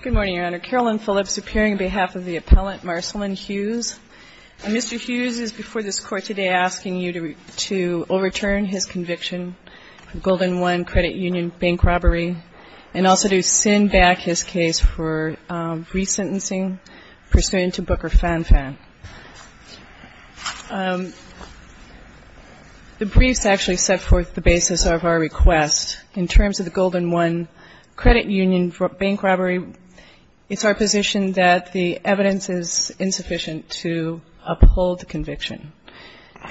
Good morning, Your Honor. Carolyn Phillips appearing on behalf of the appellant Marceline Hughes. Mr. Hughes is before this Court today asking you to overturn his conviction for Golden One Credit Union bank robbery and also to send back his case for resentencing pursuant to Booker Fan Fan. The briefs actually set forth the basis of our request. In terms of the Golden One Credit Union bank robbery, it's our position that the evidence is insufficient to uphold the conviction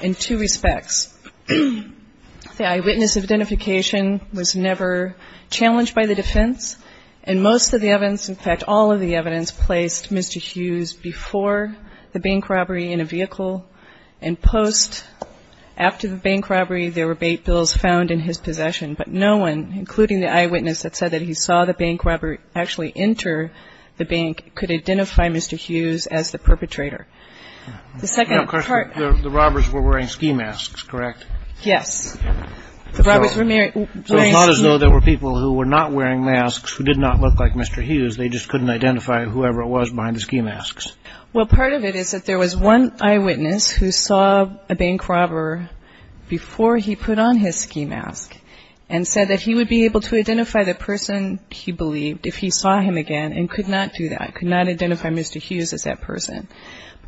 in two respects. The eyewitness identification was never challenged by the defense, and most of the evidence, in fact all of the evidence placed Mr. Hughes before the bank robbery. The bank robbery in a vehicle and post after the bank robbery there were bait bills found in his possession, but no one, including the eyewitness that said that he saw the bank robber actually enter the bank, could identify Mr. Hughes as the perpetrator. The second part... The robbers were wearing ski masks, correct? Yes. So it's not as though there were people who were not wearing masks who did not look like Mr. Hughes, they just couldn't identify whoever it was behind the ski masks. Well, part of it is that there was one eyewitness who saw a bank robber before he put on his ski mask and said that he would be able to identify the person he believed if he saw him again and could not do that, could not identify Mr. Hughes as that person.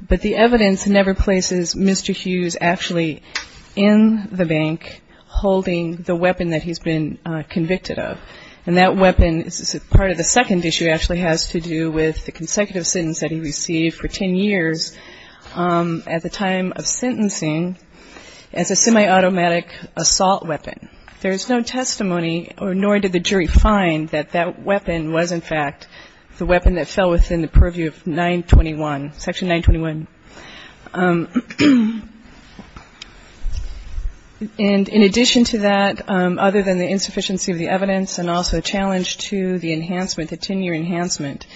But the evidence never places Mr. Hughes actually in the bank holding the weapon that he's been convicted of. And that weapon is part of the second issue actually has to do with the consecutive sentence that he received for 10 years at the time of sentencing as a semi-automatic assault weapon. And in addition to that, other than the insufficiency of the evidence and also a challenge to the enhancement, the 10-year enhancement,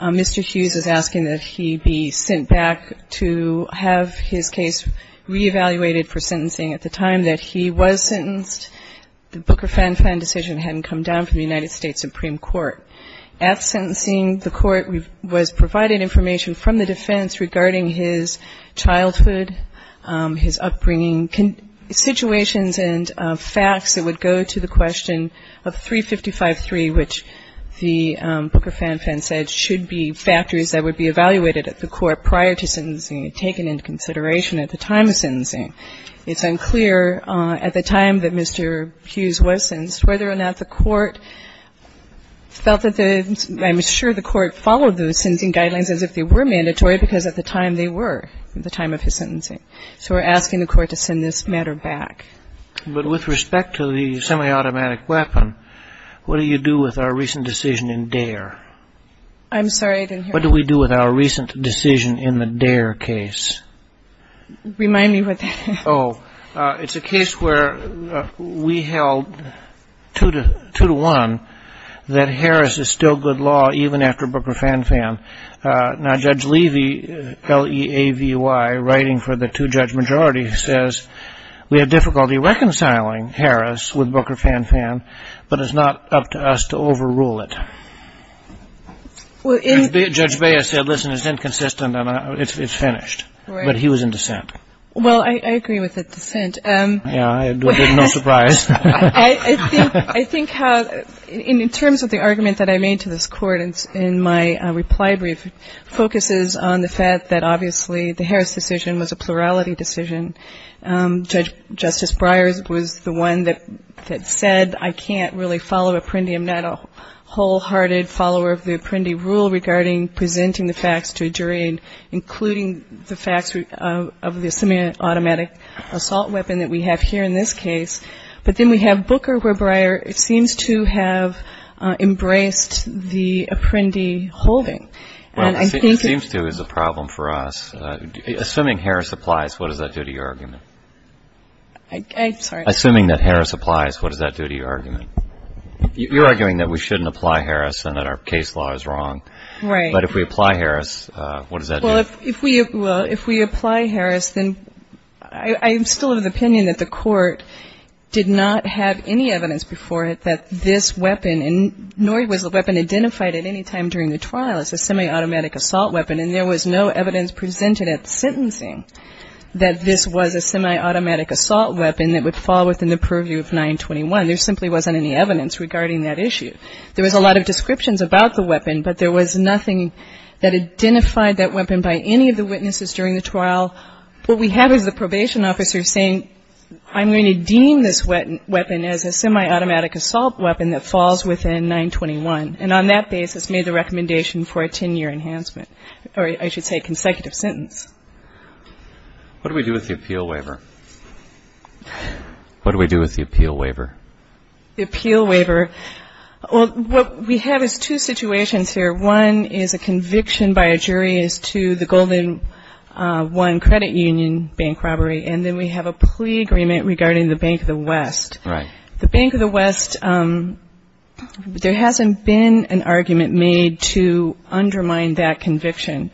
Mr. Hughes is asking that he be sent back to have his case re-evaluated for sentencing at the time that he was sentenced. The Booker-Fan-Fan decision hadn't come down from the United States Supreme Court. At sentencing, the court was provided information from the defense regarding his childhood, his upbringing, situations and facts that would go to the question of 355-3, which the Booker-Fan-Fan said should be factors that would be evaluated at the court prior to sentencing and taken into consideration at the time of sentencing. It's unclear at the time that Mr. Hughes was sentenced whether or not the court felt that the – I'm sure the court followed those sentencing guidelines as if they were mandatory because at the time they were at the time of his sentencing. So we're asking the court to send this matter back. But with respect to the semi-automatic weapon, what do you do with our recent decision in Dare? I'm sorry, I didn't hear that. What do we do with our recent decision in the Dare case? Remind me what that is. Oh, it's a case where we held two to one that Harris is still good law even after Booker-Fan-Fan. Now Judge Levy, L-E-A-V-Y, writing for the two-judge majority, says we have difficulty reconciling Harris with Booker-Fan-Fan, but it's not up to us to overrule it. Judge Baez said, listen, it's inconsistent and it's finished. Right. But he was in dissent. Well, I agree with the dissent. Yeah, no surprise. I think how – in terms of the argument that I made to this court in my reply brief, it focuses on the fact that obviously the Harris decision was a plurality decision. Justice Breyer was the one that said I can't really follow Apprendi. I'm not a wholehearted follower of the Apprendi rule regarding presenting the facts to a jury, including the facts of the semi-automatic assault weapon that we have here in this case. But then we have Booker where Breyer seems to have embraced the Apprendi holding. Well, seems to is a problem for us. Assuming Harris applies, what does that do to your argument? I'm sorry. Assuming that Harris applies, what does that do to your argument? You're arguing that we shouldn't apply Harris and that our case law is wrong. Right. But if we apply Harris, what does that do? Well, if we apply Harris, then I'm still of the opinion that the court did not have any evidence before it that this weapon, nor was the weapon identified at any time during the trial as a semi-automatic assault weapon, and there was no evidence presented at sentencing that this was a semi-automatic assault weapon that would fall within the purview of 921. There simply wasn't any evidence regarding that issue. There was a lot of descriptions about the weapon, but there was nothing that identified that weapon by any of the witnesses during the trial. What we have is the probation officer saying, I'm going to deem this weapon as a semi-automatic assault weapon that falls within 921, and on that basis made the recommendation for a 10-year enhancement, or I should say consecutive sentence. What do we do with the appeal waiver? What do we do with the appeal waiver? The appeal waiver, well, what we have is two situations here. One is a conviction by a jury as to the Golden One credit union bank robbery, and then we have a plea agreement regarding the Bank of the West. Right. The Bank of the West, there hasn't been an argument made to undermine that conviction.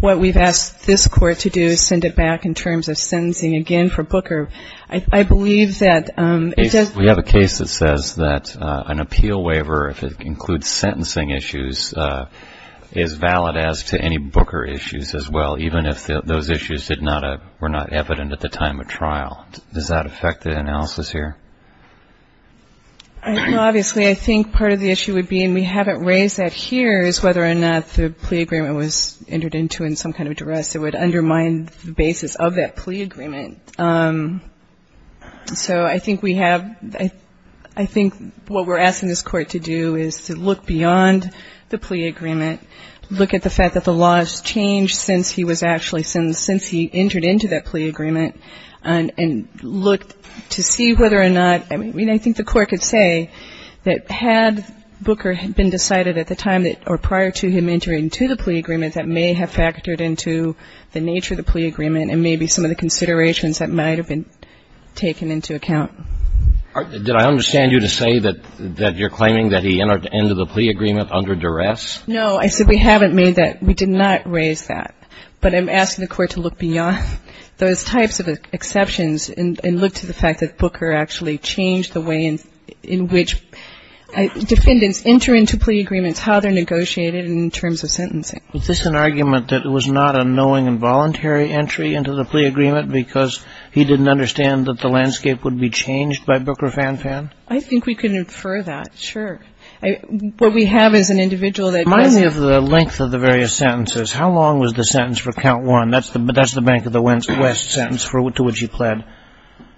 What we've asked this court to do is send it back in terms of sentencing again for Booker. I believe that it does. We have a case that says that an appeal waiver, if it includes sentencing issues, is valid as to any Booker issues as well, even if those issues were not evident at the time of trial. Does that affect the analysis here? No, obviously. I think part of the issue would be, and we haven't raised that here, is whether or not the plea agreement was entered into in some kind of duress. It would undermine the basis of that plea agreement. So I think we have, I think what we're asking this court to do is to look beyond the plea agreement, look at the fact that the law has changed since he was actually sentenced, since he entered into that plea agreement, and look to see whether or not, I mean, I think the court could say that had Booker been decided at the time or prior to him entering into the plea agreement, that may have factored into the nature of the plea agreement and maybe some of the considerations that might have been taken into account. Did I understand you to say that you're claiming that he entered into the plea agreement under duress? No, I said we haven't made that. We did not raise that. But I'm asking the court to look beyond those types of exceptions and look to the fact that Booker actually changed the way in which defendants enter into plea agreements, how they're negotiated in terms of sentencing. Is this an argument that it was not a knowing and voluntary entry into the plea agreement because he didn't understand that the landscape would be changed by Booker Fanfan? I think we can infer that, sure. What we have is an individual that goes in. Remind me of the length of the various sentences. How long was the sentence for Count 1? That's the Bank of the West sentence to which he pled.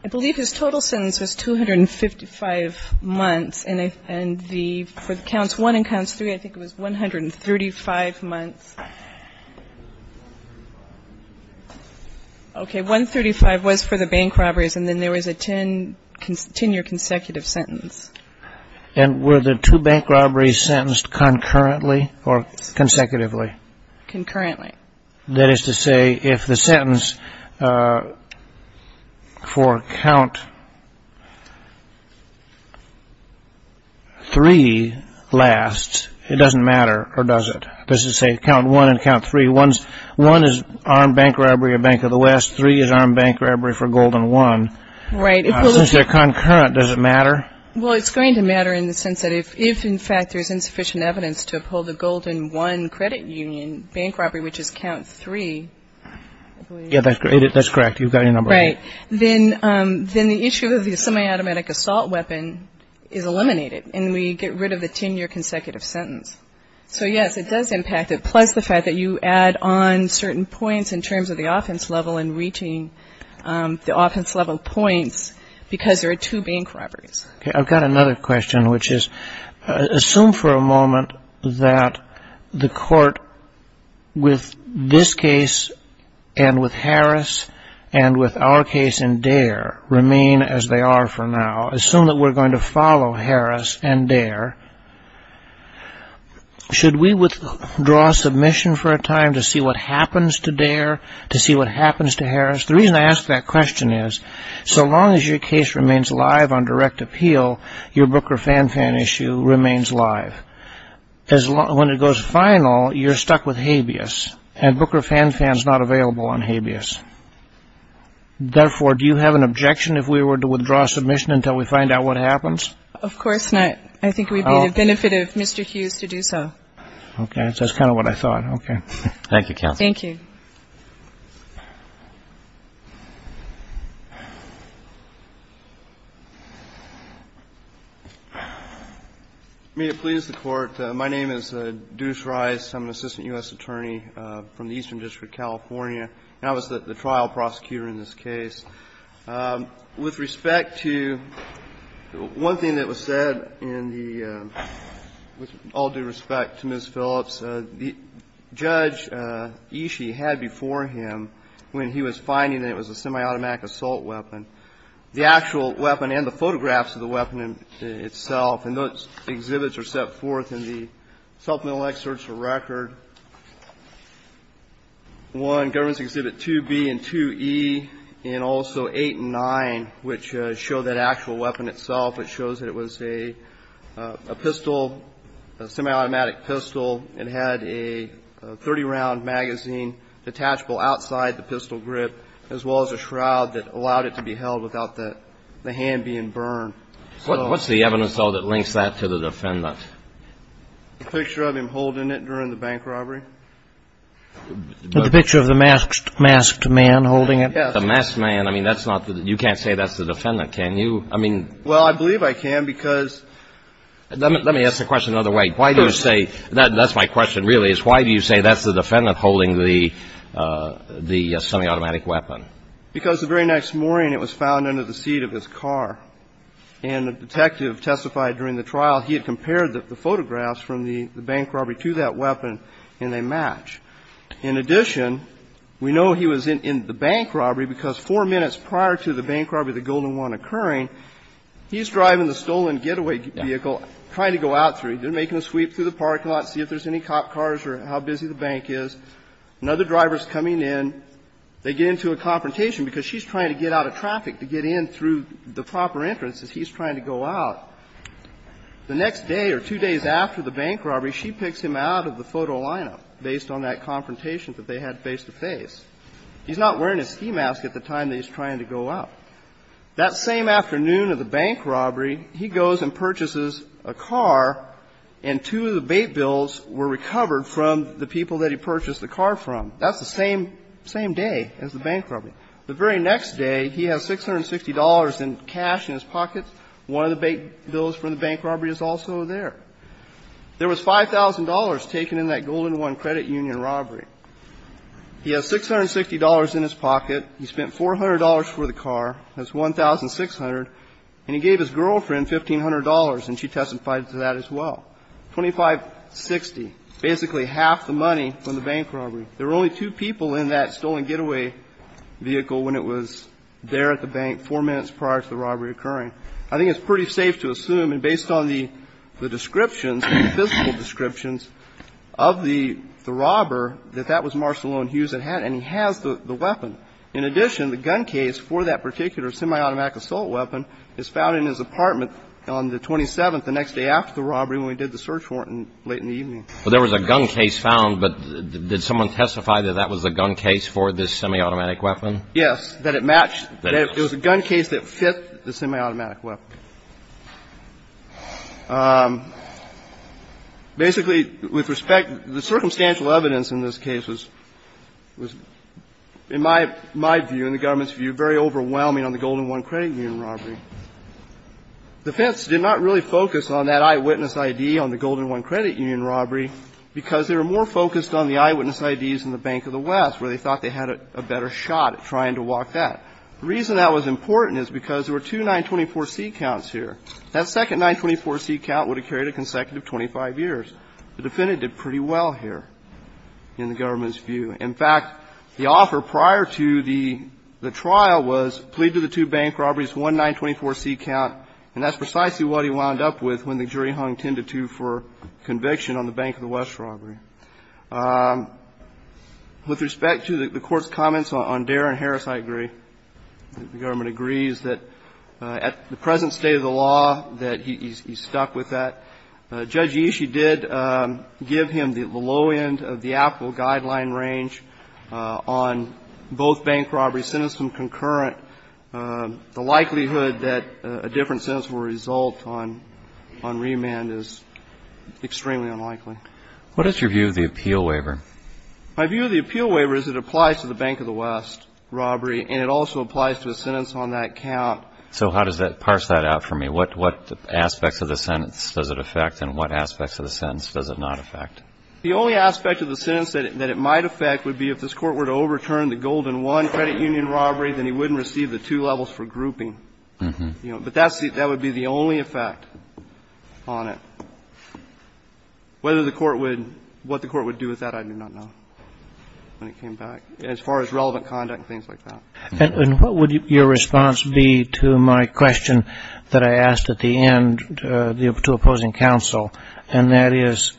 I believe his total sentence was 255 months, and for Counts 1 and Counts 3, I think it was 135 months. Okay, 135 was for the bank robberies, and then there was a 10-year consecutive sentence. And were the two bank robberies sentenced concurrently or consecutively? Concurrently. That is to say, if the sentence for Count 3 lasts, it doesn't matter, or does it? Does it say Count 1 and Count 3? One is armed bank robbery of Bank of the West. Three is armed bank robbery for Golden 1. Right. Since they're concurrent, does it matter? Well, it's going to matter in the sense that if, in fact, there's insufficient evidence to uphold the Golden 1 credit union bank robbery, which is Count 3, I believe. Yeah, that's correct. You've got your number. Right. Then the issue of the semi-automatic assault weapon is eliminated, and we get rid of the 10-year consecutive sentence. So, yes, it does impact it, plus the fact that you add on certain points in terms of the offense level and reaching the offense level points because there are two bank robberies. Okay. I've got another question, which is assume for a moment that the court with this case and with Harris and with our case in Dare remain as they are for now. Assume that we're going to follow Harris and Dare. Should we withdraw submission for a time to see what happens to Dare, to see what happens to Harris? The reason I ask that question is so long as your case remains live on direct appeal, your Booker Fanfan issue remains live. When it goes final, you're stuck with habeas, and Booker Fanfan is not available on habeas. Therefore, do you have an objection if we were to withdraw submission until we find out what happens? Of course not. I think it would be the benefit of Mr. Hughes to do so. Okay. That's kind of what I thought. Okay. Thank you, Counsel. Thank you. May it please the Court. My name is Deuce Rice. I'm an assistant U.S. attorney from the Eastern District, California, and I was the trial prosecutor in this case. With respect to one thing that was said in the, with all due respect to Ms. Phillips, Judge Ishii had before him, when he was finding that it was a semi-automatic assault weapon, the actual weapon and the photographs of the weapon itself, and those exhibits are set forth in the supplemental excerpts for record. One, Governments Exhibit 2B and 2E, and also 8 and 9, which show that actual weapon itself. It shows that it was a pistol, a semi-automatic pistol. It had a 30-round magazine detachable outside the pistol grip, as well as a shroud that allowed it to be held without the hand being burned. What's the evidence, though, that links that to the defendant? The picture of him holding it during the bank robbery? The picture of the masked man holding it? Yes. The masked man. I mean, that's not the, you can't say that's the defendant, can you? I mean. Well, I believe I can, because... Let me ask the question another way. Why do you say, that's my question, really, is why do you say that's the defendant holding the semi-automatic weapon? Because the very next morning, it was found under the seat of his car, and the detective testified during the trial, he had compared the photographs from the bank robbery to that weapon, and they match. In addition, we know he was in the bank robbery, because four minutes prior to the bank robbery, the golden one occurring, he's driving the stolen getaway vehicle, trying to go out through... They're making a sweep through the parking lot, see if there's any cop cars or how busy the bank is. Another driver's coming in. They get into a confrontation, because she's trying to get out of traffic, to get in through the proper entrance, as he's trying to go out. The next day, or two days after the bank robbery, she picks him out of the photo lineup, based on that confrontation that they had face-to-face. He's not wearing his ski mask at the time that he's trying to go out. That same afternoon of the bank robbery, he goes and purchases a car, and two of the bait bills were recovered from the people that he purchased the car from. That's the same day as the bank robbery. The very next day, he has $660 in cash in his pocket. One of the bait bills from the bank robbery is also there. There was $5,000 taken in that golden one credit union robbery. He has $660 in his pocket. He spent $400 for the car. That's $1,600. And he gave his girlfriend $1,500, and she testified to that as well. $2,560, basically half the money from the bank robbery. There were only two people in that stolen getaway vehicle when it was there at the bank, four minutes prior to the robbery occurring. I think it's pretty safe to assume, and based on the descriptions, the physical descriptions of the robber, that that was Marcelone Hughes that had it, and he has the weapon. In addition, the gun case for that particular semi-automatic assault weapon is found in his apartment on the 27th, the next day after the robbery, when we did the search warrant late in the evening. Well, there was a gun case found, but did someone testify that that was the gun case for this semi-automatic weapon? Yes, that it matched. It was a gun case that fit the semi-automatic weapon. Basically, with respect, the circumstantial evidence in this case was, in my view, in the government's view, very overwhelming on the golden one credit union robbery. The defense did not really focus on that eyewitness ID on the golden one credit union robbery because they were more focused on the eyewitness IDs in the Bank of the West, where they thought they had a better shot at trying to walk that. The reason that was important is because there were two 924C counts here. That second 924C count would have carried a consecutive 25 years. The defendant did pretty well here in the government's view. In fact, the offer prior to the trial was, plead to the two bank robberies, one 924C count, and that's precisely what he wound up with when the jury hung 10-2 for conviction on the Bank of the West robbery. With respect to the Court's comments on Darin Harris, I agree. The government agrees that at the present state of the law that he's stuck with that. Judge Ishii did give him the low end of the applicable guideline range on both bank robberies, sentencing concurrent. The likelihood that a different sentence will result on remand is extremely unlikely. What is your view of the appeal waiver? My view of the appeal waiver is it applies to the Bank of the West robbery and it also applies to a sentence on that count. So how does that parse that out for me? What aspects of the sentence does it affect and what aspects of the sentence does it not affect? The only aspect of the sentence that it might affect would be if this Court were to overturn the Golden 1 credit union robbery, then he wouldn't receive the two levels for grouping. But that would be the only effect on it. Whether the Court would, what the Court would do with that, I do not know when it came back, as far as relevant conduct and things like that. And what would your response be to my question that I asked at the end to opposing counsel, and that is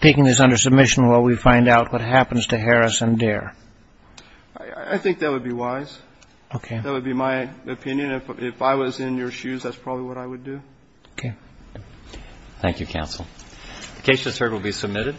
taking this under submission while we find out what happens to Harris and Dare? I think that would be wise. Okay. That would be my opinion. If I was in your shoes, that's probably what I would do. Okay. Thank you, counsel. The case just heard will be submitted.